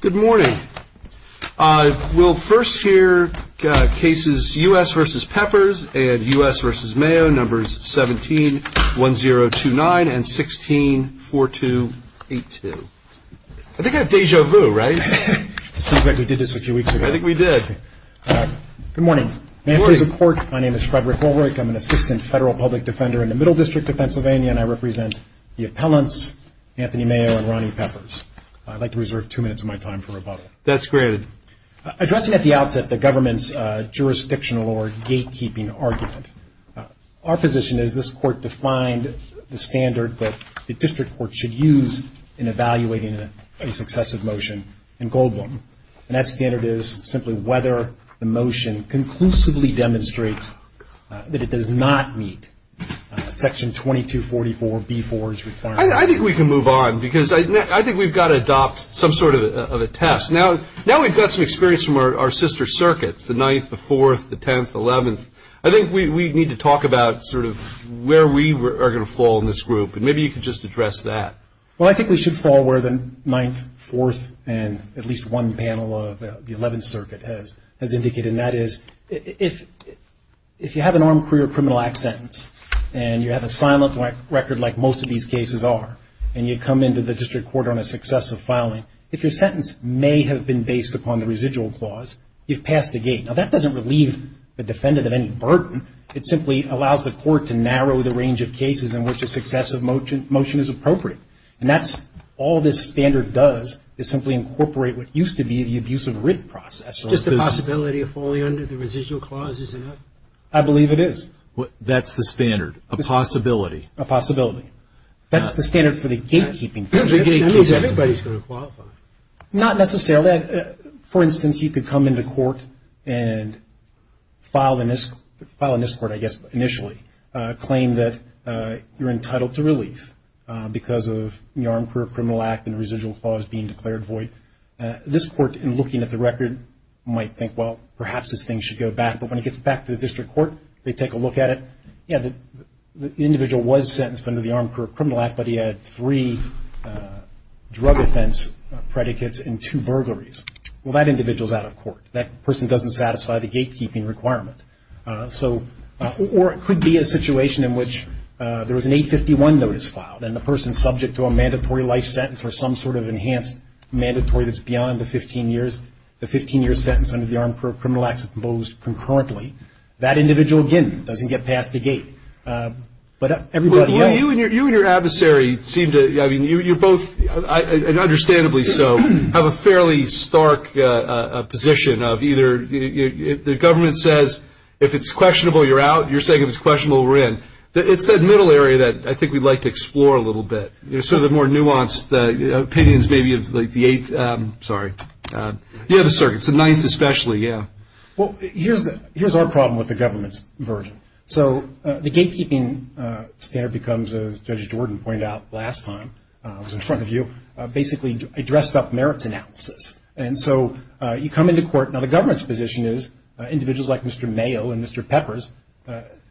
Good morning. We'll first hear cases U.S. v. Peppers and U.S. v. Mayo, numbers 17-1029 and 16-4282. I think I have deja vu, right? It seems like we did this a few weeks ago. I think we did. Good morning. Good morning. May I have your support? My name is Frederick Ulrich. I'm an assistant federal public defender in the Middle District of Pennsylvania, and I represent the appellants Anthony Mayo and Ronnie Peppers. I'd like to reserve two minutes of my time for rebuttal. That's granted. Addressing at the outset the government's jurisdictional or gatekeeping argument, our position is this court defined the standard that the district court should use in evaluating a successive motion in Goldblum, and that standard is simply whether the motion conclusively demonstrates that it does not meet Section 2244B-4's requirements. I think we can move on because I think we've got to adopt some sort of a test. Now we've got some experience from our sister circuits, the 9th, the 4th, the 10th, the 11th. I think we need to talk about sort of where we are going to fall in this group, and maybe you could just address that. Well, I think we should fall where the 9th, 4th, and at least one panel of the 11th Circuit has indicated, and that is if you have an Armed Career Criminal Act sentence, and you have a silent record like most of these cases are, and you come into the district court on a successive filing, if your sentence may have been based upon the residual clause, you've passed the gate. Now that doesn't relieve the defendant of any burden. It simply allows the court to narrow the range of cases in which a successive motion is appropriate, and that's all this standard does is simply incorporate what used to be the abuse of writ process. Just the possibility of falling under the residual clause, isn't it? I believe it is. That's the standard, a possibility. A possibility. That's the standard for the gatekeeping. That means everybody's going to qualify. Not necessarily. For instance, you could come into court and file in this court, I guess initially, claim that you're entitled to relief because of the Armed Career Criminal Act and residual clause being declared void. This court, in looking at the record, might think, well, perhaps this thing should go back. But when it gets back to the district court, they take a look at it. Yeah, the individual was sentenced under the Armed Career Criminal Act, but he had three drug offense predicates and two burglaries. Well, that individual's out of court. That person doesn't satisfy the gatekeeping requirement. Or it could be a situation in which there was an 851 notice filed, and the person's subject to a mandatory life sentence or some sort of enhanced mandatory that's beyond the 15 years. The 15-year sentence under the Armed Career Criminal Act is imposed concurrently. That individual, again, doesn't get past the gate. But everybody else. Well, you and your adversary seem to, I mean, you're both, and understandably so, have a fairly stark position of either the government says if it's questionable, you're out. You're saying if it's questionable, we're in. It's that middle area that I think we'd like to explore a little bit. You know, sort of the more nuanced opinions maybe of like the eighth, sorry. Yeah, the circuits, the ninth especially, yeah. Well, here's our problem with the government's version. So the gatekeeping standard becomes, as Judge Jordan pointed out last time, I was in front of you, basically a dressed-up merits analysis. And so you come into court. Now, the government's position is individuals like Mr. Mayo and Mr. Peppers,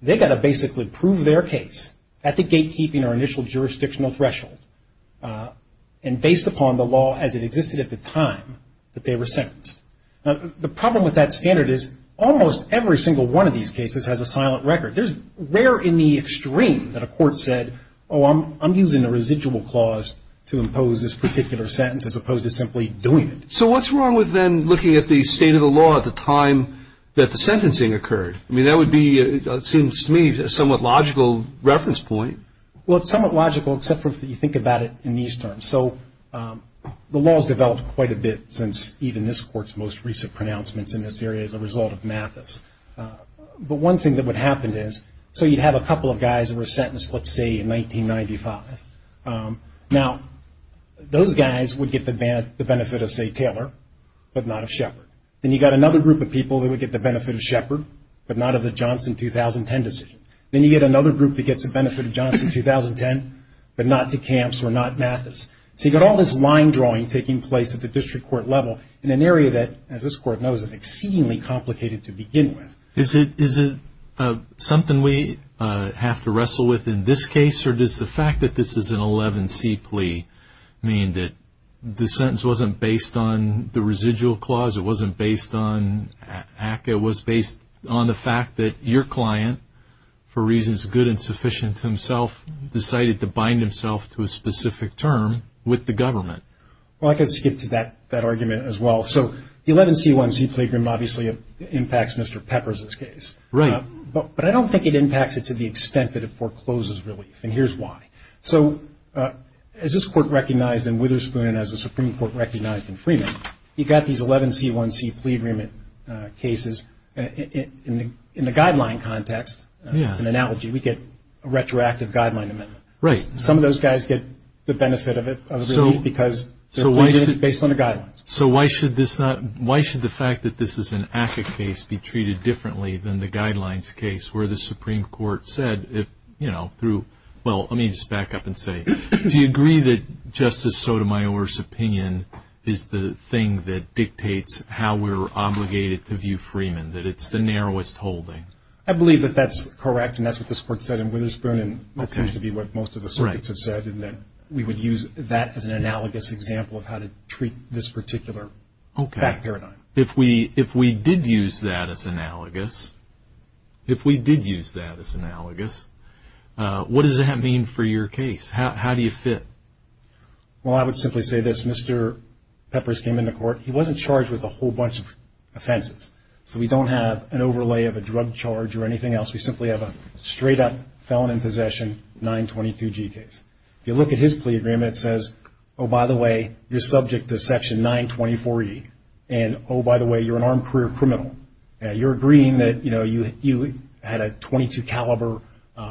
they've got to basically prove their case at the gatekeeping or initial jurisdictional threshold and based upon the law as it existed at the time that they were sentenced. Now, the problem with that standard is almost every single one of these cases has a silent record. There's rare in the extreme that a court said, oh, I'm using a residual clause to impose this particular sentence as opposed to simply doing it. So what's wrong with then looking at the state of the law at the time that the sentencing occurred? I mean, that would be, it seems to me, a somewhat logical reference point. Well, it's somewhat logical except for if you think about it in these terms. So the law has developed quite a bit since even this court's most recent pronouncements in this area as a result of Mathis. But one thing that would happen is, so you'd have a couple of guys that were sentenced, let's say, in 1995. Now, those guys would get the benefit of, say, Taylor, but not of Shepard. Then you've got another group of people that would get the benefit of Shepard, but not of the Johnson 2010 decision. Then you get another group that gets the benefit of Johnson 2010, but not to Camps or not Mathis. So you've got all this line drawing taking place at the district court level in an area that, as this court knows, is exceedingly complicated to begin with. Is it something we have to wrestle with in this case, or does the fact that this is an 11C plea mean that the sentence wasn't based on the residual clause, it wasn't based on ACCA, it was based on the fact that your client, for reasons good and sufficient to himself, decided to bind himself to a specific term with the government? Well, I could skip to that argument as well. So the 11C1C plagrim obviously impacts Mr. Peppers' case. Right. But I don't think it impacts it to the extent that it forecloses relief, and here's why. So as this court recognized in Witherspoon and as the Supreme Court recognized in Freeman, you've got these 11C1C plea agreement cases. In the guideline context, it's an analogy, we get a retroactive guideline amendment. Right. Some of those guys get the benefit of it, of relief, because they're pleading based on the guidelines. So why should this not – why should the fact that this is an ACCA case be treated differently than the guidelines case, where the Supreme Court said, you know, through – well, let me just back up and say, do you agree that Justice Sotomayor's opinion is the thing that dictates how we're obligated to view Freeman, that it's the narrowest holding? I believe that that's correct, and that's what this court said in Witherspoon, and that seems to be what most of the circuits have said, in that we would use that as an analogous example of how to treat this particular fact paradigm. Okay. If we did use that as analogous, if we did use that as analogous, what does that mean for your case? How do you fit? Well, I would simply say this. Mr. Peppers came into court. He wasn't charged with a whole bunch of offenses. So we don't have an overlay of a drug charge or anything else. We simply have a straight-up felon in possession, 922G case. If you look at his plea agreement, it says, oh, by the way, you're subject to Section 924E, and oh, by the way, you're an armed career criminal. You're agreeing that, you know, you had a .22 caliber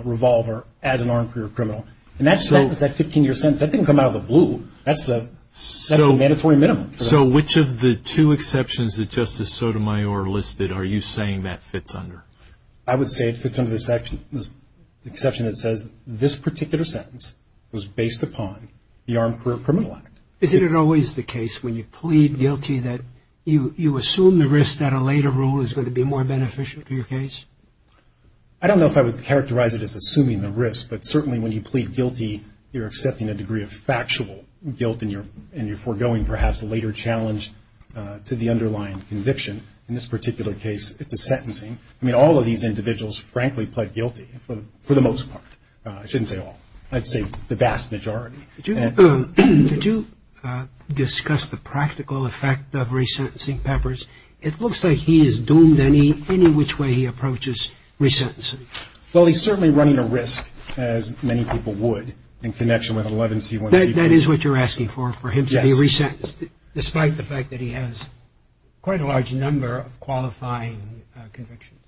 revolver as an armed career criminal. And that sentence, that 15-year sentence, that didn't come out of the blue. That's a mandatory minimum. So which of the two exceptions that Justice Sotomayor listed are you saying that fits under? I would say it fits under the exception that says this particular sentence was based upon the Armed Career Criminal Act. Isn't it always the case when you plead guilty that you assume the risk that a later rule is going to be more beneficial to your case? I don't know if I would characterize it as assuming the risk, but certainly when you plead guilty you're accepting a degree of factual guilt and you're foregoing perhaps a later challenge to the underlying conviction. In this particular case, it's a sentencing. I mean, all of these individuals, frankly, pled guilty for the most part. I shouldn't say all. I'd say the vast majority. Did you discuss the practical effect of resentencing Peppers? It looks like he is doomed any which way he approaches resentencing. Well, he's certainly running a risk, as many people would, in connection with 11C1C2. That is what you're asking for, for him to be resentenced, despite the fact that he has quite a large number of qualifying convictions.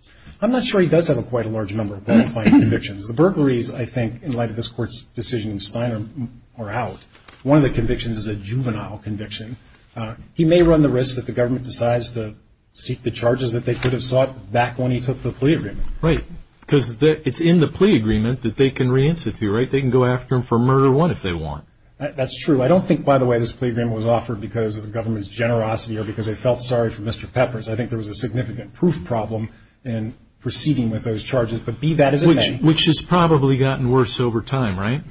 I'm not sure he does have quite a large number of qualifying convictions. The burglaries, I think, in light of this Court's decision in Spiner, are out. One of the convictions is a juvenile conviction. He may run the risk that the government decides to seek the charges that they could have sought back when he took the plea agreement. Right, because it's in the plea agreement that they can reinstitute, right? They can go after him for murder one if they want. That's true. I don't think, by the way, this plea agreement was offered because of the government's generosity or because they felt sorry for Mr. Peppers. I think there was a significant proof problem in proceeding with those charges, but be that as it may. Which has probably gotten worse over time, right?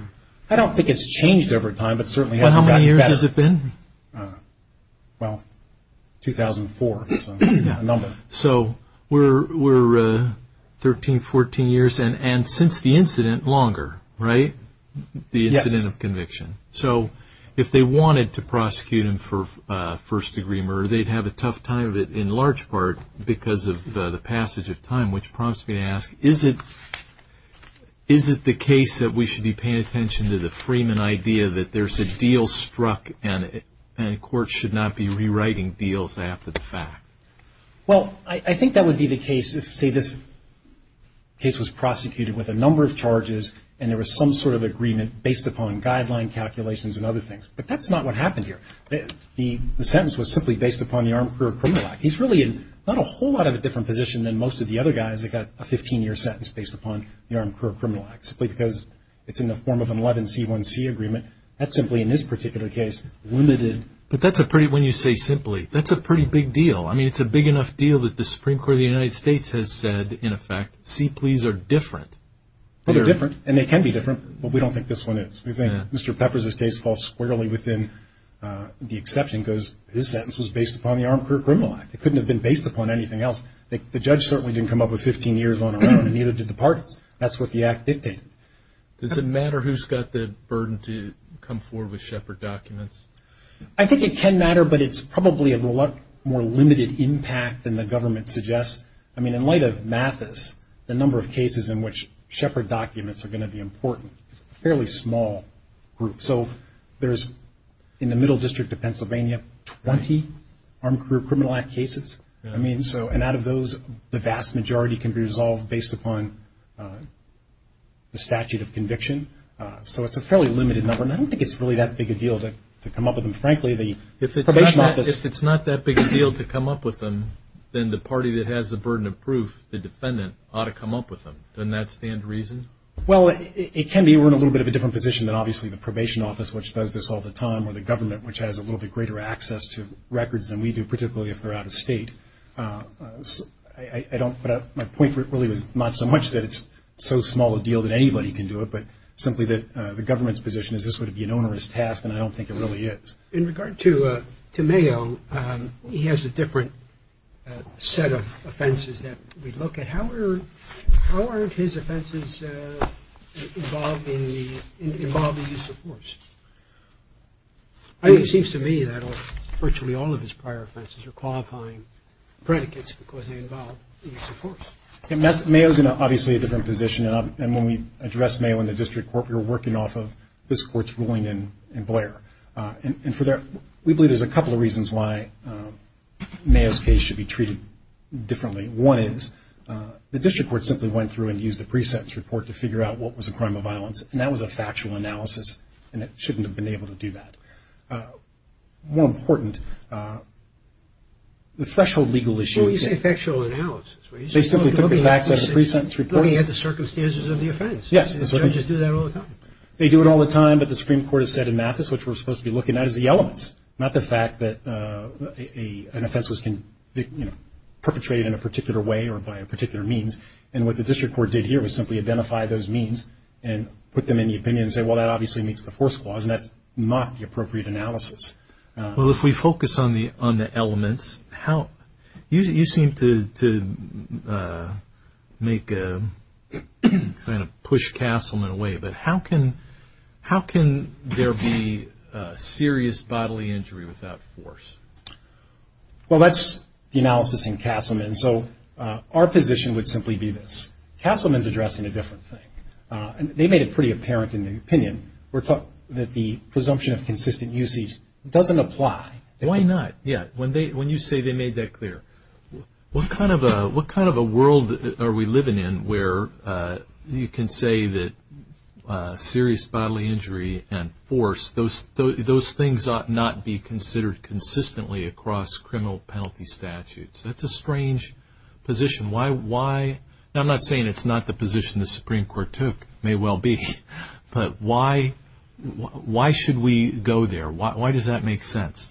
I don't think it's changed over time, but certainly hasn't gotten better. How many years has it been? Well, 2004 is a number. So we're 13, 14 years, and since the incident, longer, right? Yes. The incident of conviction. So if they wanted to prosecute him for first degree murder, they'd have a tough time in large part because of the passage of time, which prompts me to ask, is it the case that we should be paying attention to the Freeman idea that there's a deal struck and courts should not be rewriting deals after the fact? Well, I think that would be the case if, say, this case was prosecuted with a number of charges and there was some sort of agreement based upon guideline calculations and other things. But that's not what happened here. The sentence was simply based upon the Armed Career Criminal Act. He's really in not a whole lot of a different position than most of the other guys that got a 15-year sentence based upon the Armed Career Criminal Act, simply because it's in the form of an 11C1C agreement. That's simply, in this particular case, limited. But that's a pretty – when you say simply, that's a pretty big deal. I mean, it's a big enough deal that the Supreme Court of the United States has said, in effect, see, please, are different. Well, they're different, and they can be different, but we don't think this one is. We think Mr. Peppers' case falls squarely within the exception because his sentence was based upon the Armed Career Criminal Act. It couldn't have been based upon anything else. The judge certainly didn't come up with 15 years on her own, and neither did the parties. That's what the Act dictated. Does it matter who's got the burden to come forward with Shepard documents? I think it can matter, but it's probably a lot more limited impact than the government suggests. I mean, in light of Mathis, the number of cases in which Shepard documents are going to be important is a fairly small group. So there's, in the Middle District of Pennsylvania, 20 Armed Career Criminal Act cases. And out of those, the vast majority can be resolved based upon the statute of conviction. So it's a fairly limited number, and I don't think it's really that big a deal to come up with them. Frankly, the probation office – If it's not that big a deal to come up with them, then the party that has the burden of proof, the defendant, ought to come up with them. Doesn't that stand to reason? Well, it can be. We're in a little bit of a different position than, obviously, the probation office, which does this all the time, or the government, which has a little bit greater access to records than we do, particularly if they're out of state. But my point really was not so much that it's so small a deal that anybody can do it, but simply that the government's position is this would be an onerous task, and I don't think it really is. In regard to Mayo, he has a different set of offenses that we look at. How are his offenses involved in the use of force? It seems to me that virtually all of his prior offenses are qualifying predicates because they involve the use of force. Mayo's in, obviously, a different position, and when we addressed Mayo in the district court, we were working off of this court's ruling in Blair. We believe there's a couple of reasons why Mayo's case should be treated differently. One is the district court simply went through and used the pre-sentence report to figure out what was a crime of violence, and that was a factual analysis, and it shouldn't have been able to do that. More important, the threshold legal issue is that they simply took the facts out of the pre-sentence report. Looking at the circumstances of the offense. Yes. Judges do that all the time. They do it all the time, but the Supreme Court has said in Mathis, which we're supposed to be looking at, is the elements, not the fact that an offense can be perpetrated in a particular way or by a particular means, and what the district court did here was simply identify those means and put them in the opinion and say, well, that obviously meets the force clause, and that's not the appropriate analysis. Well, if we focus on the elements, you seem to make a kind of push Castleman away, but how can there be serious bodily injury without force? Well, that's the analysis in Castleman, so our position would simply be this. Castleman's addressing a different thing. They made it pretty apparent in the opinion that the presumption of consistent usage doesn't apply. Why not? Yeah, when you say they made that clear, what kind of a world are we living in where you can say that serious bodily injury and force, those things ought not be considered consistently across criminal penalty statutes? That's a strange position. Why? Now, I'm not saying it's not the position the Supreme Court took. It may well be, but why should we go there? Why does that make sense?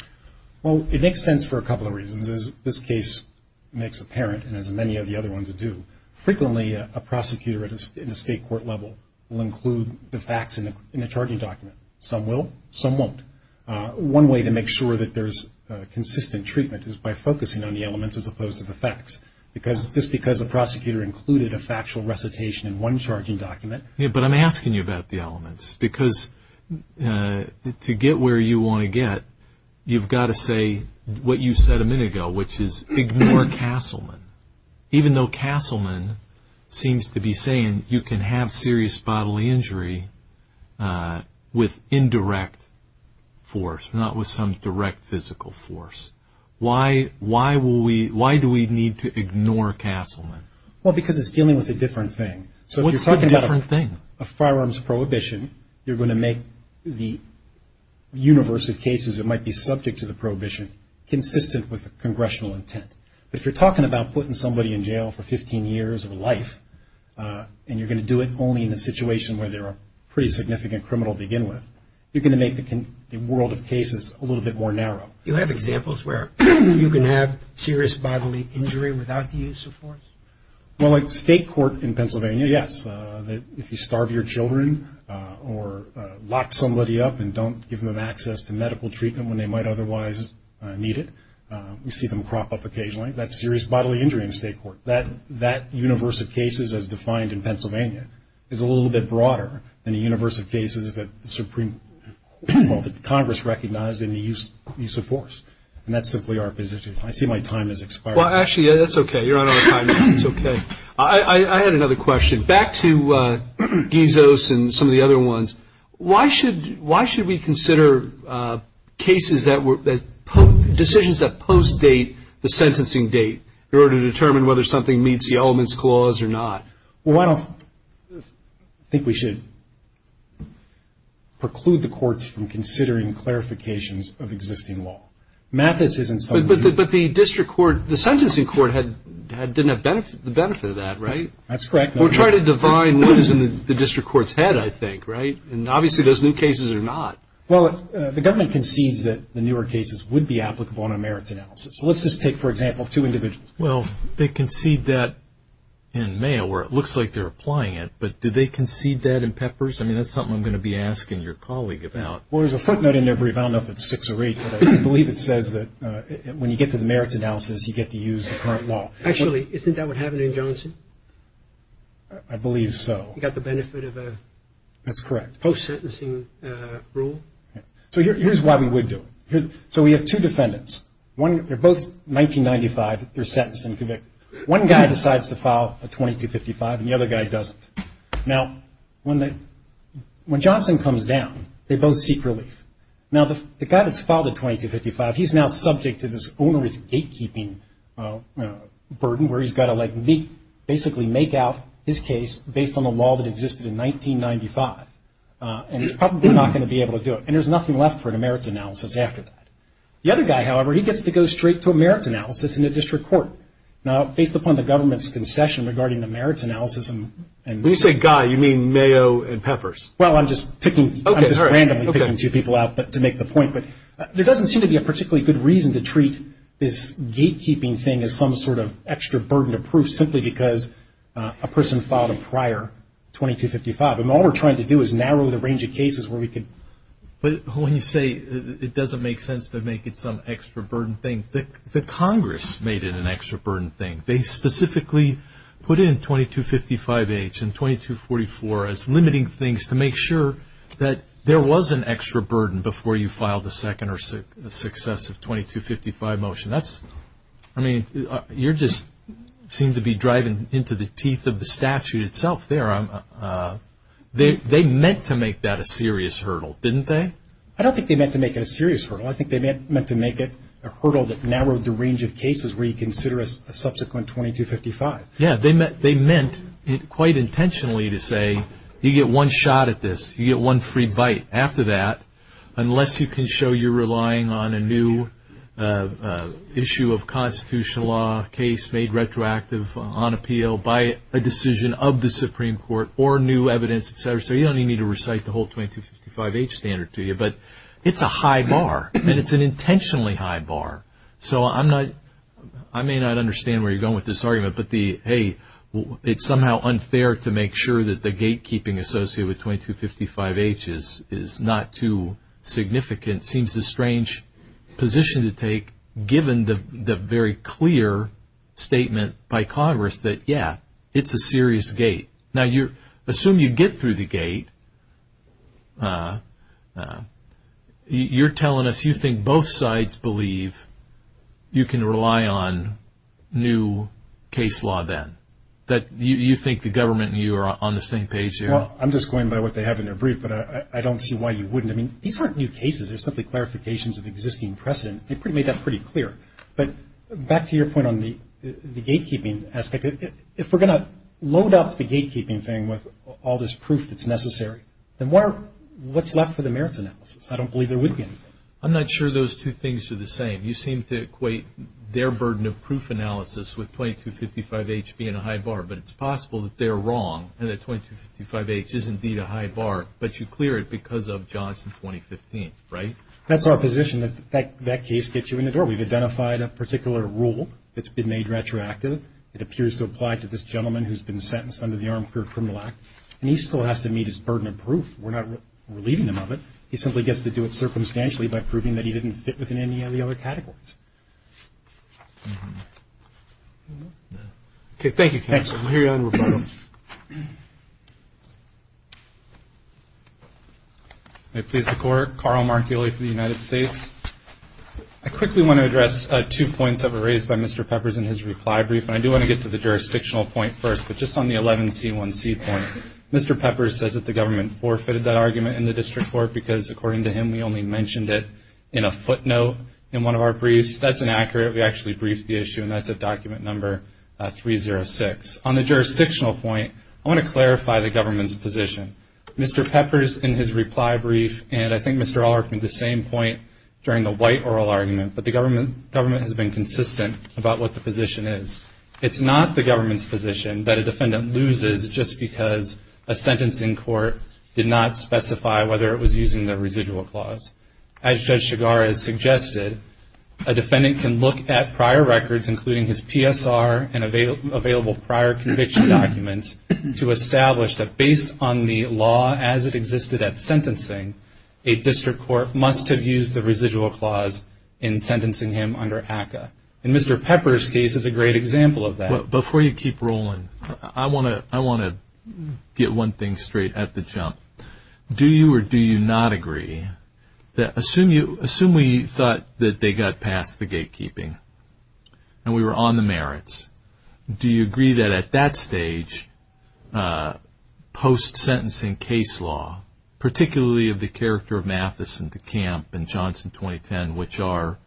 Well, it makes sense for a couple of reasons. As this case makes apparent, and as many of the other ones do, frequently a prosecutor in a state court level will include the facts in a charging document. Some will. Some won't. One way to make sure that there's consistent treatment is by focusing on the elements as opposed to the facts, just because a prosecutor included a factual recitation in one charging document. Yeah, but I'm asking you about the elements, because to get where you want to get, you've got to say what you said a minute ago, which is ignore Castleman. Even though Castleman seems to be saying you can have serious bodily injury with indirect force, not with some direct physical force. Why do we need to ignore Castleman? Well, because it's dealing with a different thing. What's the different thing? So if you're talking about a firearms prohibition, you're going to make the universe of cases that might be subject to the prohibition consistent with the congressional intent. But if you're talking about putting somebody in jail for 15 years of life and you're going to do it only in a situation where they're a pretty significant criminal to begin with, you're going to make the world of cases a little bit more narrow. You have examples where you can have serious bodily injury without the use of force? Well, like state court in Pennsylvania, yes. If you starve your children or lock somebody up and don't give them access to medical treatment when they might otherwise need it, we see them crop up occasionally. That's serious bodily injury in state court. That universe of cases as defined in Pennsylvania is a little bit broader than the universe of cases that Congress recognized in the use of force. And that's simply our position. I see my time has expired. Well, actually, that's okay. You're on our time now. It's okay. I had another question. Back to Gizos and some of the other ones, why should we consider decisions that post-date the sentencing date in order to determine whether something meets the elements clause or not? Well, I don't think we should preclude the courts from considering clarifications of existing law. Mathis isn't something we should. But the district court, the sentencing court didn't have the benefit of that, right? That's correct. We're trying to define what is in the district court's head, I think, right? And obviously those new cases are not. Well, the government concedes that the newer cases would be applicable on a merits analysis. So let's just take, for example, two individuals. Well, they concede that in Mayo where it looks like they're applying it, but did they concede that in Peppers? I mean, that's something I'm going to be asking your colleague about. Well, there's a footnote in there. I don't know if it's six or eight, but I believe it says that when you get to the merits analysis, you get to use the current law. Actually, isn't that what happened in Johnson? I believe so. You got the benefit of a post-sentencing rule? So here's why we would do it. So we have two defendants. They're both 1995. They're sentenced and convicted. One guy decides to file a 2255, and the other guy doesn't. Now, when Johnson comes down, they both seek relief. Now, the guy that's filed a 2255, he's now subject to this onerous gatekeeping burden where he's got to basically make out his case based on a law that existed in 1995, and he's probably not going to be able to do it. And there's nothing left for a merits analysis after that. The other guy, however, he gets to go straight to a merits analysis in a district court. Now, based upon the government's concession regarding the merits analysis. When you say guy, you mean Mayo and Peppers? Well, I'm just randomly picking two people out to make the point. But there doesn't seem to be a particularly good reason to treat this gatekeeping thing as some sort of extra burden of proof simply because a person filed a prior 2255. And all we're trying to do is narrow the range of cases where we could. But when you say it doesn't make sense to make it some extra burden thing, the Congress made it an extra burden thing. They specifically put in 2255-H and 2244 as limiting things to make sure that there was an extra burden before you filed a second or successive 2255 motion. That's, I mean, you just seem to be driving into the teeth of the statute itself there. They meant to make that a serious hurdle, didn't they? I don't think they meant to make it a serious hurdle. I think they meant to make it a hurdle that narrowed the range of cases where you consider a subsequent 2255. Yeah, they meant quite intentionally to say you get one shot at this, you get one free bite after that unless you can show you're relying on a new issue of constitutional law case made retroactive on appeal by a decision of the Supreme Court or new evidence, et cetera. So you don't even need to recite the whole 2255-H standard to you. But it's a high bar, and it's an intentionally high bar. So I may not understand where you're going with this argument, but, hey, it's somehow unfair to make sure that the gatekeeping associated with 2255-H is not too significant. It seems a strange position to take given the very clear statement by Congress that, yeah, it's a serious gate. Now, assume you get through the gate. You're telling us you think both sides believe you can rely on new case law then, that you think the government and you are on the same page here? Well, I'm just going by what they have in their brief, but I don't see why you wouldn't. I mean, these aren't new cases. They're simply clarifications of existing precedent. They made that pretty clear. But back to your point on the gatekeeping aspect, if we're going to load up the gatekeeping thing with all this proof that's necessary, then what's left for the merits analysis? I don't believe there would be anything. I'm not sure those two things are the same. You seem to equate their burden of proof analysis with 2255-H being a high bar. But it's possible that they're wrong and that 2255-H is indeed a high bar, but you clear it because of Johnson 2015, right? That's our position. That case gets you in the door. We've identified a particular rule that's been made retroactive. It appears to apply to this gentleman who's been sentenced under the Armed Career Criminal Act, and he still has to meet his burden of proof. We're not relieving him of it. He simply gets to do it circumstantially by proving that he didn't fit within any of the other categories. Okay, thank you, counsel. We'll hear you on rebuttal. May it please the Court. Carl Marchioli for the United States. I quickly want to address two points that were raised by Mr. Peppers in his reply brief, and I do want to get to the jurisdictional point first. But just on the 11C1C point, Mr. Peppers says that the government forfeited that argument in the district court because, according to him, we only mentioned it in a footnote in one of our briefs. That's inaccurate. We actually briefed the issue, and that's at document number 306. On the jurisdictional point, I want to clarify the government's position. Mr. Peppers, in his reply brief, and I think Mr. Allert made the same point during the white oral argument, but the government has been consistent about what the position is. It's not the government's position that a defendant loses just because a sentence in court did not specify whether it was using the residual clause. As Judge Chigar has suggested, a defendant can look at prior records, including his PSR and available prior conviction documents, to establish that based on the law as it existed at sentencing, a district court must have used the residual clause in sentencing him under ACCA. And Mr. Peppers' case is a great example of that. Before you keep rolling, I want to get one thing straight at the jump. Do you or do you not agree that assume we thought that they got past the gatekeeping and we were on the merits, do you agree that at that stage, post-sentencing case law, particularly of the character of Mathison to Camp and Johnson 2010, which are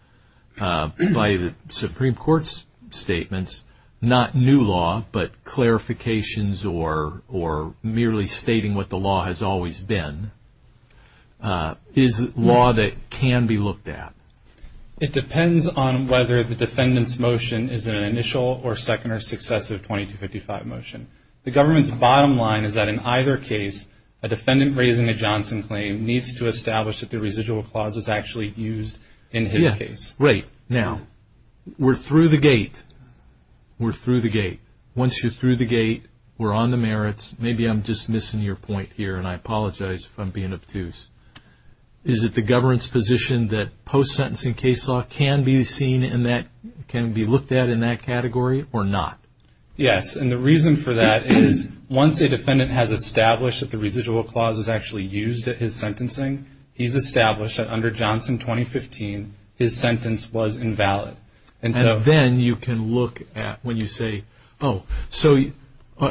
by the Supreme Court's statements, not new law, but clarifications or merely stating what the law has always been, is law that can be looked at? It depends on whether the defendant's motion is an initial or second or successive 2255 motion. The government's bottom line is that in either case, a defendant raising a Johnson claim needs to establish that the residual clause was actually used in his case. Right. Now, we're through the gate. We're through the gate. Once you're through the gate, we're on the merits. Maybe I'm just missing your point here, and I apologize if I'm being obtuse. Is it the government's position that post-sentencing case law can be seen in that, can be looked at in that category or not? Yes, and the reason for that is once a defendant has established that the residual clause is actually used at his sentencing, he's established that under Johnson 2015, his sentence was invalid. And then you can look at when you say, oh, so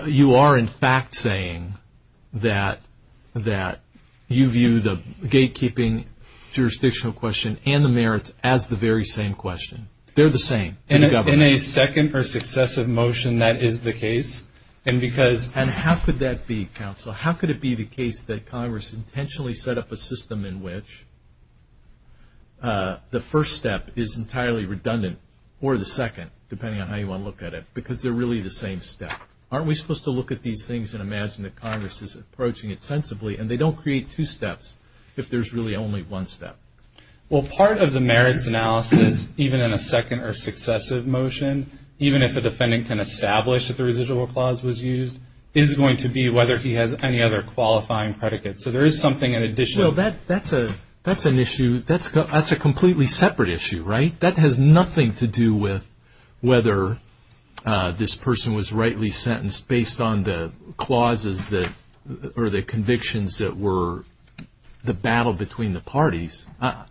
you are in fact saying that you view the gatekeeping jurisdictional question and the merits as the very same question. They're the same. In a second or successive motion, that is the case. And how could that be, counsel? How could it be the case that Congress intentionally set up a system in which the first step is entirely redundant or the second, depending on how you want to look at it, because they're really the same step? Aren't we supposed to look at these things and imagine that Congress is approaching it sensibly, and they don't create two steps if there's really only one step? Well, part of the merits analysis, even in a second or successive motion, even if a defendant can establish that the residual clause was used, is going to be whether he has any other qualifying predicate. So there is something in addition. That's an issue. That's a completely separate issue, right? That has nothing to do with whether this person was rightly sentenced based on the clauses or the convictions that were the battle between the parties. I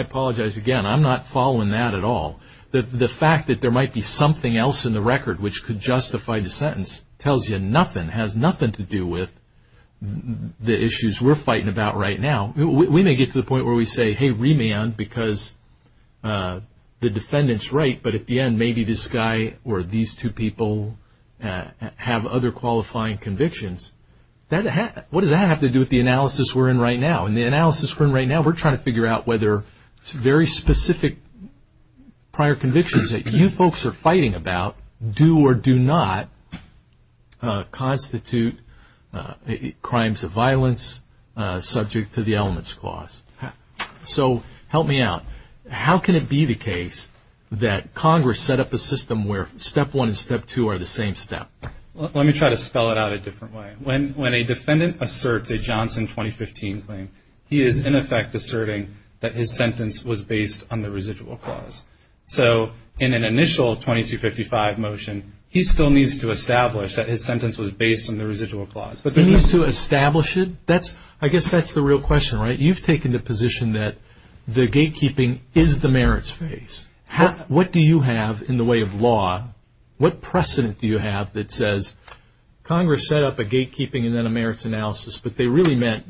apologize again. I'm not following that at all. The fact that there might be something else in the record which could justify the sentence tells you nothing, has nothing to do with the issues we're fighting about right now. We may get to the point where we say, hey, remand, because the defendant's right, but at the end, maybe this guy or these two people have other qualifying convictions. What does that have to do with the analysis we're in right now? In the analysis we're in right now, we're trying to figure out whether very specific prior convictions that you folks are fighting about do or do not constitute crimes of violence subject to the elements clause. So help me out. How can it be the case that Congress set up a system where step one and step two are the same step? Let me try to spell it out a different way. When a defendant asserts a Johnson 2015 claim, he is in effect asserting that his sentence was based on the residual clause. So in an initial 2255 motion, he still needs to establish that his sentence was based on the residual clause. He needs to establish it? I guess that's the real question, right? You've taken the position that the gatekeeping is the merits phase. What do you have in the way of law, what precedent do you have that says, Congress set up a gatekeeping and then a merits analysis, but they really meant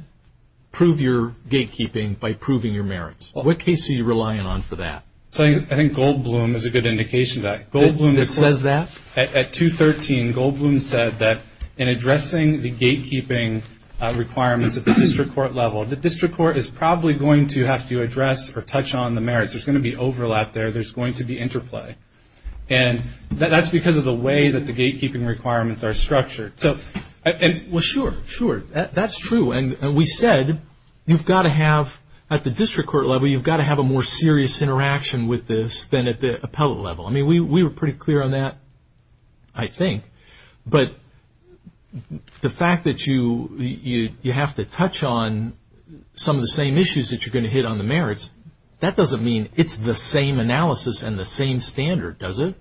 prove your gatekeeping by proving your merits? What case are you relying on for that? I think Goldbloom is a good indication of that. Goldbloom says that? At 213, Goldbloom said that in addressing the gatekeeping requirements at the district court level, the district court is probably going to have to address or touch on the merits. There's going to be overlap there. There's going to be interplay. And that's because of the way that the gatekeeping requirements are structured. Well, sure, sure. That's true. And we said you've got to have at the district court level, you've got to have a more serious interaction with this than at the appellate level. I mean, we were pretty clear on that, I think. But the fact that you have to touch on some of the same issues that you're going to hit on the merits, that doesn't mean it's the same analysis and the same standard, does it?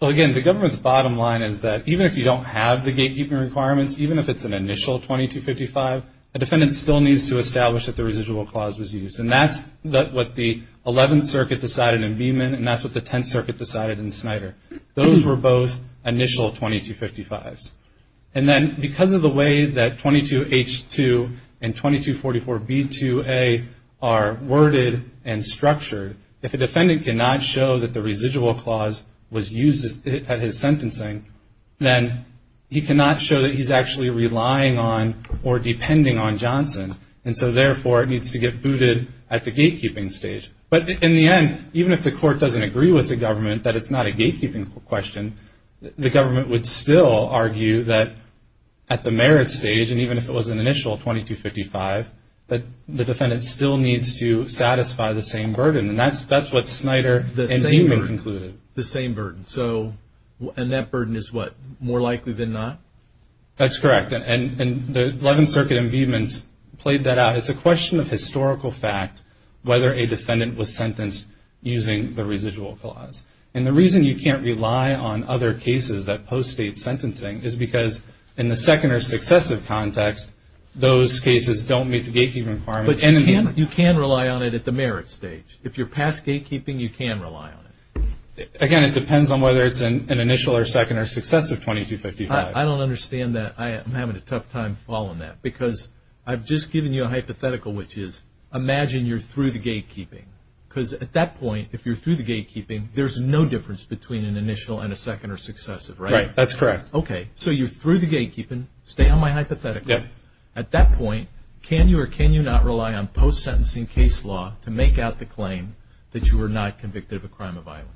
Well, again, the government's bottom line is that even if you don't have the gatekeeping requirements, even if it's an initial 2255, a defendant still needs to establish that the residual clause was used. And that's what the 11th Circuit decided in Beeman, and that's what the 10th Circuit decided in Snyder. Those were both initial 2255s. And then because of the way that 22H2 and 2244B2A are worded and structured, if a defendant cannot show that the residual clause was used at his sentencing, then he cannot show that he's actually relying on or depending on Johnson. And so, therefore, it needs to get booted at the gatekeeping stage. But in the end, even if the court doesn't agree with the government that it's not a gatekeeping question, the government would still argue that at the merits stage, and even if it was an initial 2255, that the defendant still needs to satisfy the same burden. And that's what Snyder and Beeman concluded. The same burden. And that burden is what? More likely than not? That's correct. And the 11th Circuit in Beeman's played that out. It's a question of historical fact whether a defendant was sentenced using the residual clause. And the reason you can't rely on other cases that postdate sentencing is because in the second or successive context, those cases don't meet the gatekeeping requirements. But you can rely on it at the merits stage. If you're past gatekeeping, you can rely on it. Again, it depends on whether it's an initial or second or successive 2255. I don't understand that. I'm having a tough time following that because I've just given you a hypothetical, which is imagine you're through the gatekeeping. Because at that point, if you're through the gatekeeping, there's no difference between an initial and a second or successive, right? Right. That's correct. Okay. So you're through the gatekeeping. Stay on my hypothetical. At that point, can you or can you not rely on post-sentencing case law to make out the claim that you were not convicted of a crime of violence?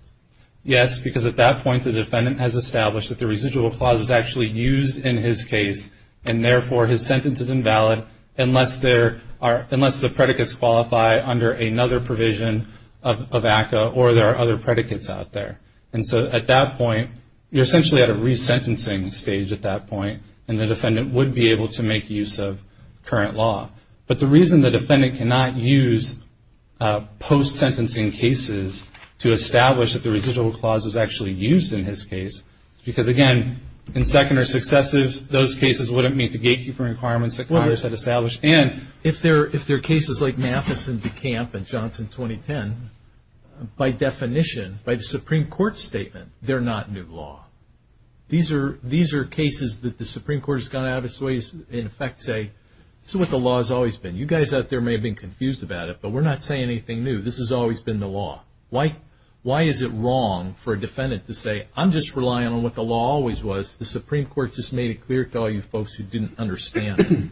Yes, because at that point, the defendant has established that the residual clause was actually used in his case, and therefore his sentence is invalid unless the predicates qualify under another provision of ACCA or there are other predicates out there. And so at that point, you're essentially at a resentencing stage at that point, and the defendant would be able to make use of current law. But the reason the defendant cannot use post-sentencing cases to establish that the residual clause was actually used in his case is because, again, in second or successive, those cases wouldn't meet the gatekeeper requirements that others had established. And if they're cases like Mathis and DeCamp and Johnson 2010, by definition, by the Supreme Court statement, they're not new law. These are cases that the Supreme Court has gone out of its way to, in effect, say, this is what the law has always been. You guys out there may have been confused about it, but we're not saying anything new. This has always been the law. Why is it wrong for a defendant to say, I'm just relying on what the law always was. The Supreme Court just made it clear to all you folks who didn't understand.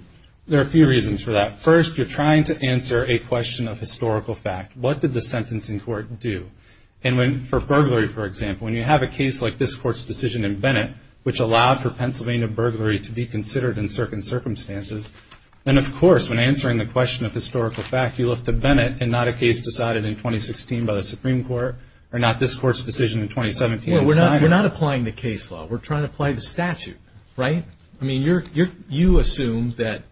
There are a few reasons for that. First, you're trying to answer a question of historical fact. What did the sentencing court do? And for burglary, for example, when you have a case like this court's decision in Bennett, which allowed for Pennsylvania burglary to be considered in certain circumstances, then, of course, when answering the question of historical fact, you look to Bennett and not a case decided in 2016 by the Supreme Court or not this court's decision in 2017. We're not applying the case law. We're trying to apply the statute, right? I mean, you assume that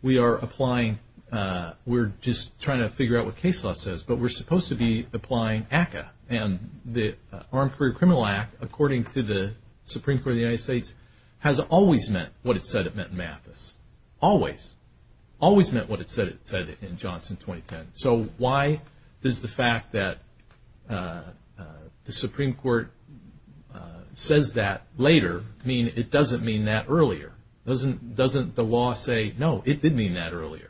we are applying, we're just trying to figure out what case law says, but we're supposed to be applying ACCA. And the Armed Career Criminal Act, according to the Supreme Court of the United States, has always meant what it said it meant in Mathis, always. Always meant what it said it said in Johnson 2010. So why does the fact that the Supreme Court says that later mean it doesn't mean that earlier? Doesn't the law say, no, it did mean that earlier?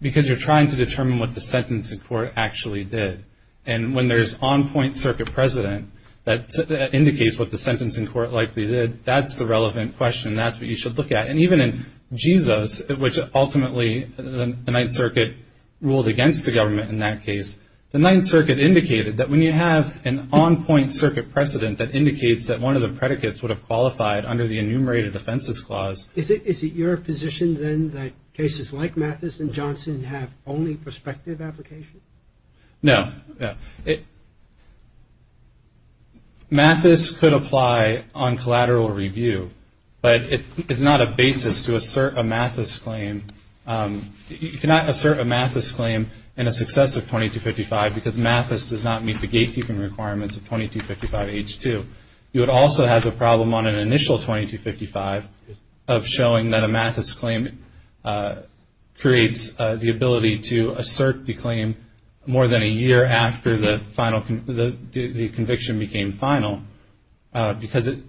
Because you're trying to determine what the sentencing court actually did. And when there's on-point circuit precedent that indicates what the sentencing court likely did, that's the relevant question. That's what you should look at. And even in Jesus, which ultimately the Ninth Circuit ruled against the government in that case, the Ninth Circuit indicated that when you have an on-point circuit precedent that indicates that one of the predicates would have qualified under the enumerated offenses clause. Is it your position then that cases like Mathis and Johnson have only prospective applications? No. Mathis could apply on collateral review, but it's not a basis to assert a Mathis claim. You cannot assert a Mathis claim in a success of 2255 because Mathis does not meet the gatekeeping requirements of 2255H2. You would also have the problem on an initial 2255 of showing that a Mathis claim creates the ability to assert the claim more than a year after the conviction became final because the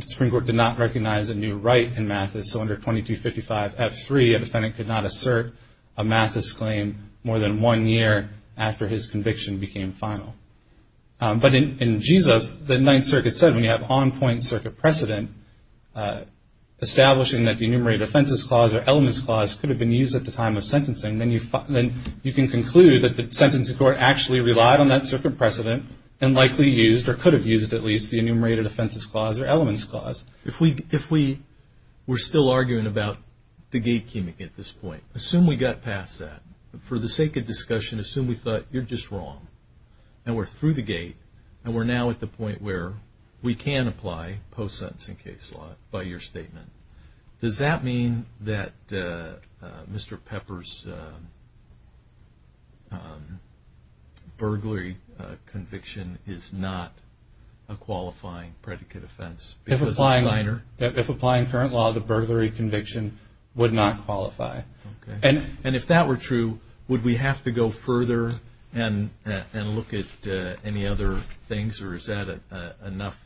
Supreme Court did not recognize a new right in Mathis. So under 2255F3, a defendant could not assert a Mathis claim more than one year after his conviction became final. But in Jesus, the Ninth Circuit said when you have on-point circuit precedent establishing that the enumerated offenses clause or elements clause could have been used at the time of sentencing, then you can conclude that the sentencing court actually relied on that circuit precedent and likely used or could have used at least the enumerated offenses clause or elements clause. If we were still arguing about the gatekeeping at this point, assume we got past that. For the sake of discussion, assume we thought you're just wrong and we're through the gate and we're now at the point where we can apply post-sentencing case law by your statement. Does that mean that Mr. Pepper's burglary conviction is not a qualifying predicate offense? If applying current law, the burglary conviction would not qualify. And if that were true, would we have to go further and look at any other things or is that enough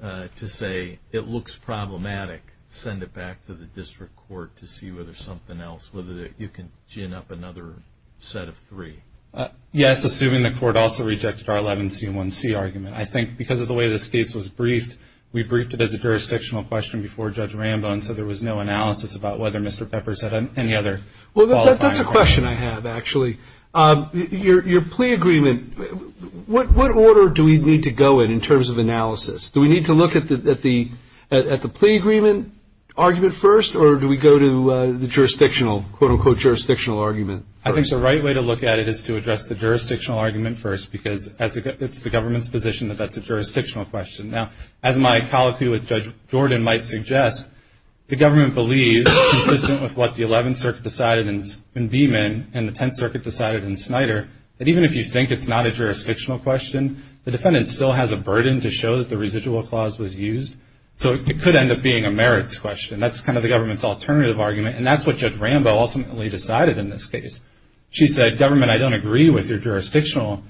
to say it looks problematic? Send it back to the district court to see whether there's something else, whether you can gin up another set of three. Yes, assuming the court also rejected our 11C1C argument. I think because of the way this case was briefed, we briefed it as a jurisdictional question before Judge Rambo, and so there was no analysis about whether Mr. Pepper's had any other qualifying arguments. Well, that's a question I have, actually. Your plea agreement, what order do we need to go in in terms of analysis? Do we need to look at the plea agreement argument first or do we go to the jurisdictional, quote, unquote, jurisdictional argument? I think the right way to look at it is to address the jurisdictional argument first because it's the government's position that that's a jurisdictional question. Now, as my colloquy with Judge Jordan might suggest, the government believes, consistent with what the 11th Circuit decided in Beeman and the 10th Circuit decided in Snyder, that even if you think it's not a jurisdictional question, the defendant still has a burden to show that the residual clause was used, so it could end up being a merits question. That's kind of the government's alternative argument, and that's what Judge Rambo ultimately decided in this case. She said, government, I don't agree with your jurisdictional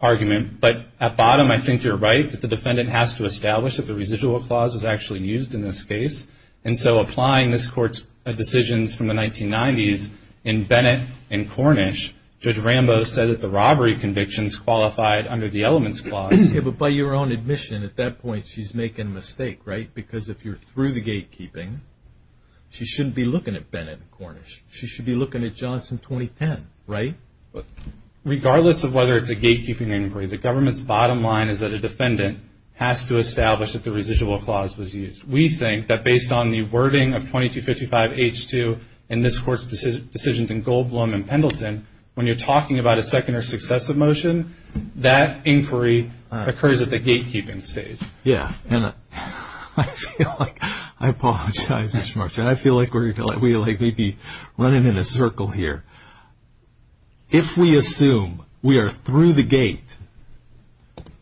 argument, but at bottom I think you're right that the defendant has to establish that the residual clause was actually used in this case, and so applying this court's decisions from the 1990s in Bennett and Cornish, Judge Rambo said that the robbery convictions qualified under the elements clause. Yeah, but by your own admission, at that point, she's making a mistake, right? Because if you're through the gatekeeping, she shouldn't be looking at Bennett and Cornish. She should be looking at Johnson 2010, right? Regardless of whether it's a gatekeeping inquiry, the government's bottom line is that a defendant has to establish that the residual clause was used. We think that based on the wording of 2255H2 in this court's decisions in Goldblum and Pendleton, when you're talking about a second or successive motion, that inquiry occurs at the gatekeeping stage. Yeah, and I feel like we're running in a circle here. If we assume we are through the gate,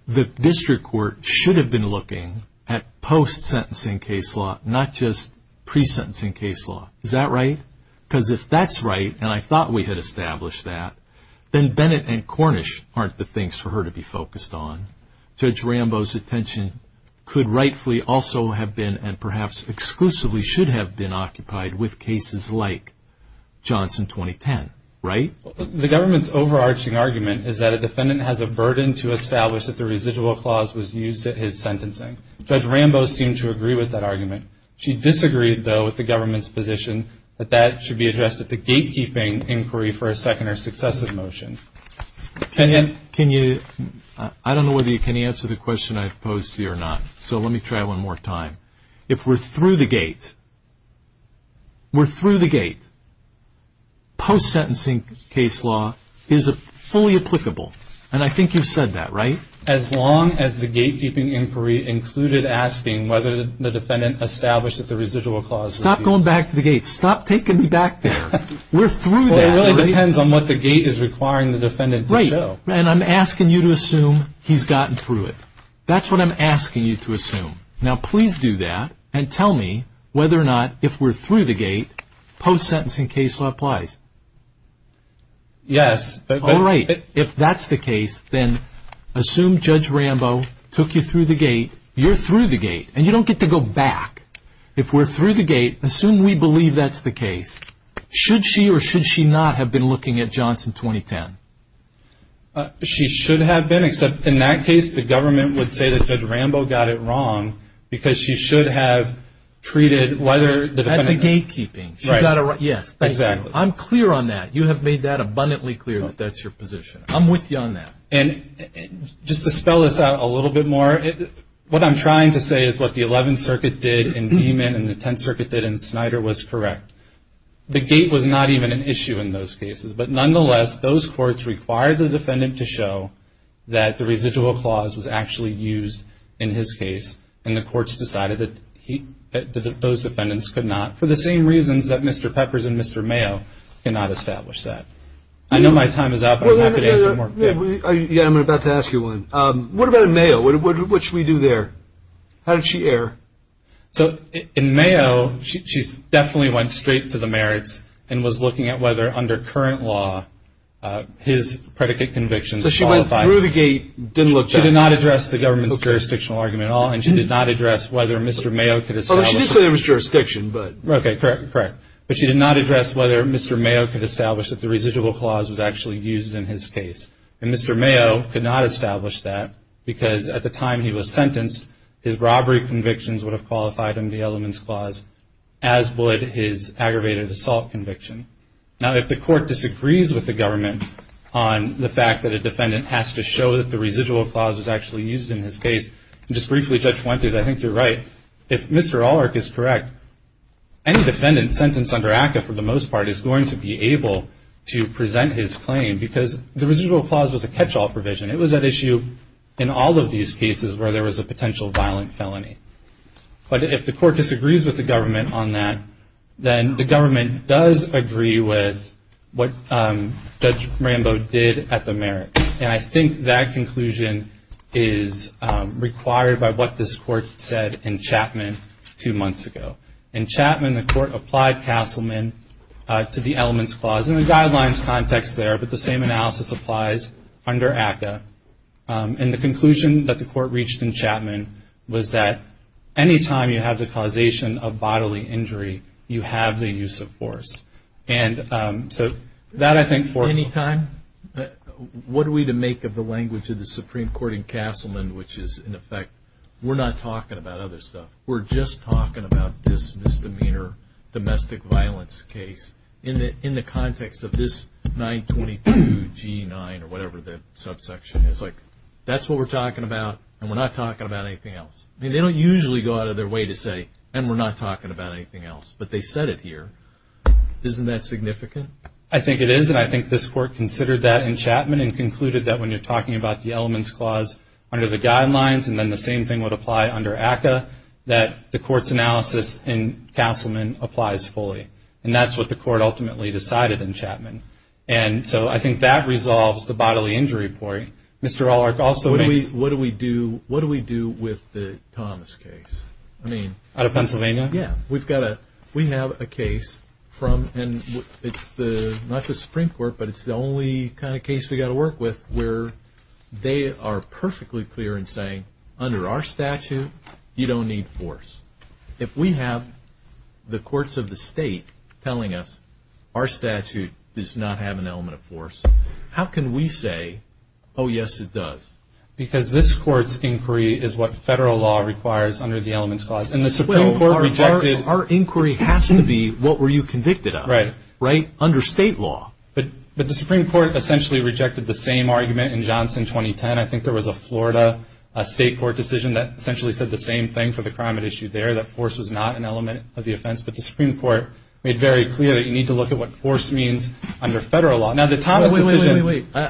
the district court should have been looking at post-sentencing case law, not just pre-sentencing case law. Is that right? Because if that's right, and I thought we had established that, then Bennett and Cornish aren't the things for her to be focused on. Judge Rambo's attention could rightfully also have been and perhaps exclusively should have been occupied with cases like Johnson 2010, right? The government's overarching argument is that a defendant has a burden to establish that the residual clause was used at his sentencing. Judge Rambo seemed to agree with that argument. She disagreed, though, with the government's position that that should be addressed at the gatekeeping inquiry for a second or successive motion. Ken, can you? I don't know whether you can answer the question I've posed to you or not, so let me try one more time. If we're through the gate, we're through the gate, post-sentencing case law is fully applicable. And I think you've said that, right? As long as the gatekeeping inquiry included asking whether the defendant established that the residual clause was used. Stop going back to the gate. Stop taking me back there. We're through that. Well, it really depends on what the gate is requiring the defendant to show. Right, and I'm asking you to assume he's gotten through it. That's what I'm asking you to assume. Now, please do that and tell me whether or not if we're through the gate, post-sentencing case law applies. Yes. All right. If that's the case, then assume Judge Rambo took you through the gate. You're through the gate, and you don't get to go back. If we're through the gate, assume we believe that's the case. Should she or should she not have been looking at Johnson 2010? She should have been, except in that case, the government would say that Judge Rambo got it wrong because she should have treated whether the defendant. At the gatekeeping. Right. Yes. Exactly. I'm clear on that. You have made that abundantly clear that that's your position. I'm with you on that. And just to spell this out a little bit more, what I'm trying to say is what the 11th Circuit did in Dieman and the 10th Circuit did in Snyder was correct. The gate was not even an issue in those cases. But nonetheless, those courts required the defendant to show that the residual clause was actually used in his case, and the courts decided that those defendants could not, for the same reasons that Mr. Peppers and Mr. Mayo cannot establish that. I know my time is up, but I'm happy to answer more. I'm about to ask you one. What about in Mayo? What should we do there? How did she err? So in Mayo, she definitely went straight to the merits and was looking at whether under current law his predicate convictions qualified. So she went through the gate, didn't look back. She did not address the government's jurisdictional argument at all, and she did not address whether Mr. Mayo could establish. Well, she did say there was jurisdiction, but. Okay, correct, correct. But she did not address whether Mr. Mayo could establish that the residual clause was actually used in his case. And Mr. Mayo could not establish that because at the time he was sentenced, his robbery convictions would have qualified under the elements clause, as would his aggravated assault conviction. Now, if the court disagrees with the government on the fact that a defendant has to show that the residual clause was actually used in his case, and just briefly, Judge Fuentes, I think you're right, if Mr. Allark is correct, any defendant sentenced under ACCA for the most part is going to be able to present his claim because the residual clause was a catch-all provision. It was at issue in all of these cases where there was a potential violent felony. But if the court disagrees with the government on that, then the government does agree with what Judge Rambo did at the merits. And I think that conclusion is required by what this court said in Chapman two months ago. In Chapman, the court applied Castleman to the elements clause in the guidelines context there, but the same analysis applies under ACCA. And the conclusion that the court reached in Chapman was that any time you have the causation of bodily injury, you have the use of force. And so that, I think, foreshadows. Any time? What are we to make of the language of the Supreme Court in Castleman, which is, in effect, we're not talking about other stuff. We're just talking about this misdemeanor domestic violence case in the context of this 922 G9 or whatever the subsection is like. That's what we're talking about, and we're not talking about anything else. I mean, they don't usually go out of their way to say, and we're not talking about anything else. But they said it here. Isn't that significant? I think it is, and I think this court considered that in Chapman and concluded that when you're talking about the elements clause under the guidelines, and then the same thing would apply under ACCA, that the court's analysis in Castleman applies fully. And that's what the court ultimately decided in Chapman. And so I think that resolves the bodily injury point. Mr. Allark, also what do we do with the Thomas case? Out of Pennsylvania? Yeah. We have a case from, and it's not the Supreme Court, but it's the only kind of case we've got to work with where they are perfectly clear in saying, under our statute, you don't need force. If we have the courts of the state telling us our statute does not have an element of force, how can we say, oh, yes, it does? Because this court's inquiry is what federal law requires under the elements clause. Our inquiry has to be what were you convicted of, right, under state law. But the Supreme Court essentially rejected the same argument in Johnson 2010. I think there was a Florida state court decision that essentially said the same thing for the crime at issue there, that force was not an element of the offense. But the Supreme Court made very clear that you need to look at what force means under federal law. Now, the Thomas decision. Wait, wait,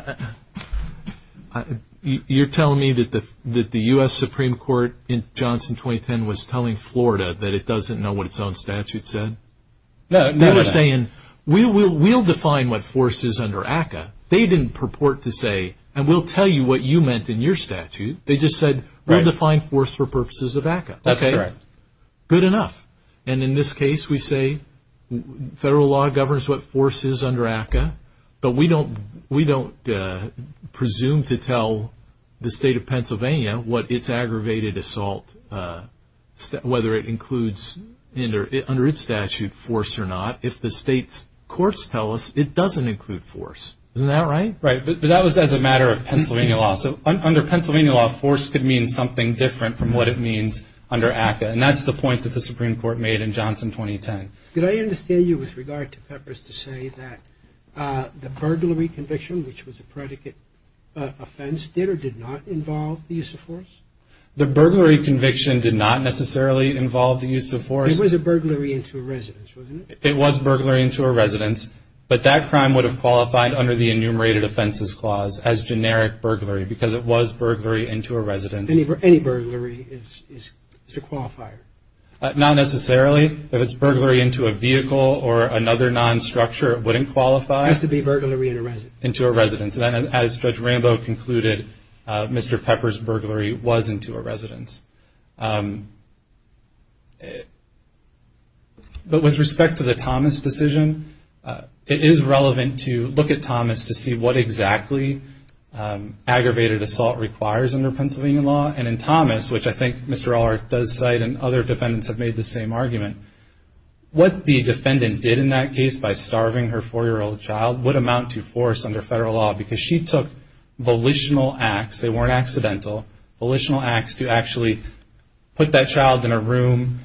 wait. You're telling me that the U.S. Supreme Court in Johnson 2010 was telling Florida that it doesn't know what its own statute said? No. They were saying, we'll define what force is under ACCA. They didn't purport to say, and we'll tell you what you meant in your statute. They just said, we'll define force for purposes of ACCA. That's correct. Good enough. And in this case, we say federal law governs what force is under ACCA, but we don't presume to tell the state of Pennsylvania what its aggravated assault, whether it includes under its statute force or not, if the state's courts tell us it doesn't include force. Isn't that right? Right, but that was as a matter of Pennsylvania law. So under Pennsylvania law, force could mean something different from what it means under ACCA, and that's the point that the Supreme Court made in Johnson 2010. Did I understand you with regard to purpose to say that the burglary conviction, which was a predicate offense, did or did not involve the use of force? The burglary conviction did not necessarily involve the use of force. It was a burglary into a residence, wasn't it? It was burglary into a residence, but that crime would have qualified under the enumerated offenses clause as generic burglary because it was burglary into a residence. Any burglary is a qualifier. Not necessarily. If it's burglary into a vehicle or another non-structure, it wouldn't qualify. It has to be burglary into a residence. Into a residence. And as Judge Rambo concluded, Mr. Pepper's burglary was into a residence. But with respect to the Thomas decision, it is relevant to look at Thomas to see what exactly aggravated assault requires under Pennsylvania law, and in Thomas, which I think Mr. Ehrlich does cite and other defendants have made the same argument, what the defendant did in that case by starving her 4-year-old child would amount to force under federal law because she took volitional acts. They weren't accidental. Volitional acts to actually put that child in a room,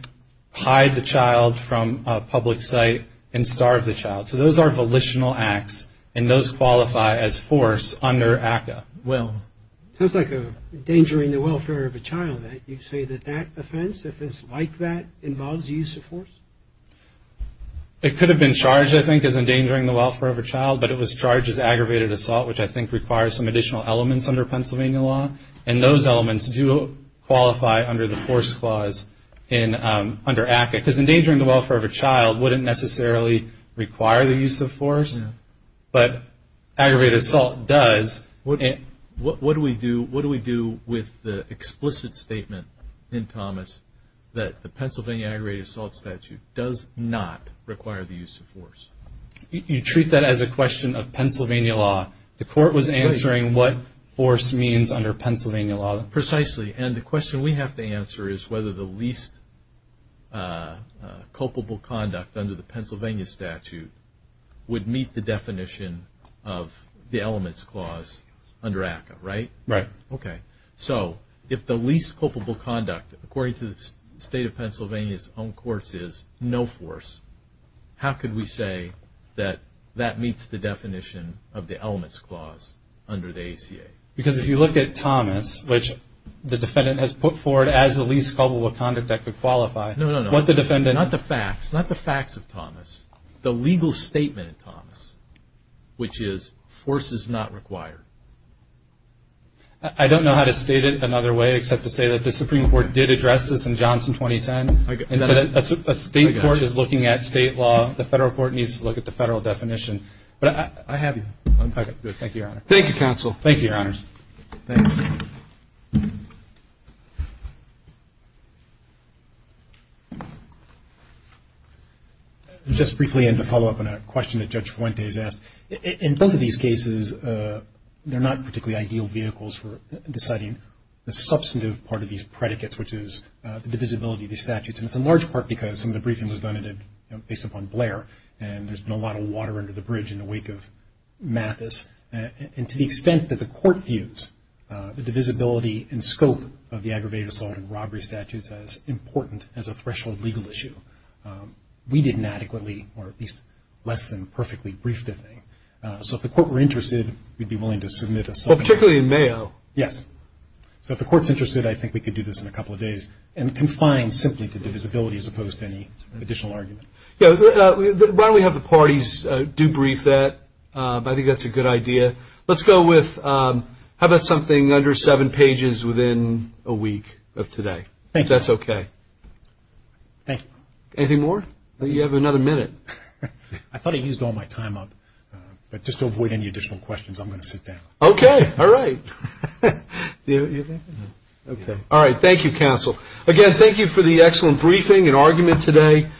hide the child from a public site, and starve the child. So those are volitional acts, and those qualify as force under ACCA. Well, it sounds like endangering the welfare of a child. You say that that offense, if it's like that, involves the use of force? It could have been charged, I think, as endangering the welfare of a child, but it was charged as aggravated assault, which I think requires some additional elements under Pennsylvania law. And those elements do qualify under the force clause under ACCA because endangering the welfare of a child wouldn't necessarily require the use of force, but aggravated assault does. What do we do with the explicit statement in Thomas that the Pennsylvania aggravated assault statute does not require the use of force? You treat that as a question of Pennsylvania law. The court was answering what force means under Pennsylvania law. Precisely. And the question we have to answer is whether the least culpable conduct under the Pennsylvania statute would meet the definition of the elements clause under ACCA, right? Right. Okay. So if the least culpable conduct, according to the state of Pennsylvania's own courts, is no force, how could we say that that meets the definition of the elements clause under the ACA? Because if you look at Thomas, which the defendant has put forward as the least culpable conduct that could qualify. No, no, no. Not the facts. Not the facts of Thomas. The legal statement in Thomas, which is force is not required. I don't know how to state it another way except to say that the Supreme Court did address this in Johnson 2010. A state court is looking at state law. The federal court needs to look at the federal definition. I have you. Thank you, Your Honor. Thank you, Counsel. Thank you, Your Honors. Thanks. Just briefly and to follow up on a question that Judge Fuentes asked, in both of these cases they're not particularly ideal vehicles for deciding the substantive part of these predicates, which is the divisibility of these statutes. And it's in large part because some of the briefing was done based upon Blair, and there's been a lot of water under the bridge in the wake of Mathis. And to the extent that the court views the divisibility and scope of the aggravated assault and robbery statutes as important as a threshold legal issue, we didn't adequately or at least less than perfectly brief the thing. So if the court were interested, we'd be willing to submit a subpoena. Particularly in Mayo. Yes. So if the court's interested, I think we could do this in a couple of days and confine simply to divisibility as opposed to any additional argument. Yeah, why don't we have the parties debrief that? I think that's a good idea. Let's go with how about something under seven pages within a week of today. Thank you. If that's okay. Thank you. Anything more? You have another minute. I thought I used all my time up. But just to avoid any additional questions, I'm going to sit down. Okay. All right. All right. Thank you, counsel. Again, thank you for the excellent briefing and argument today.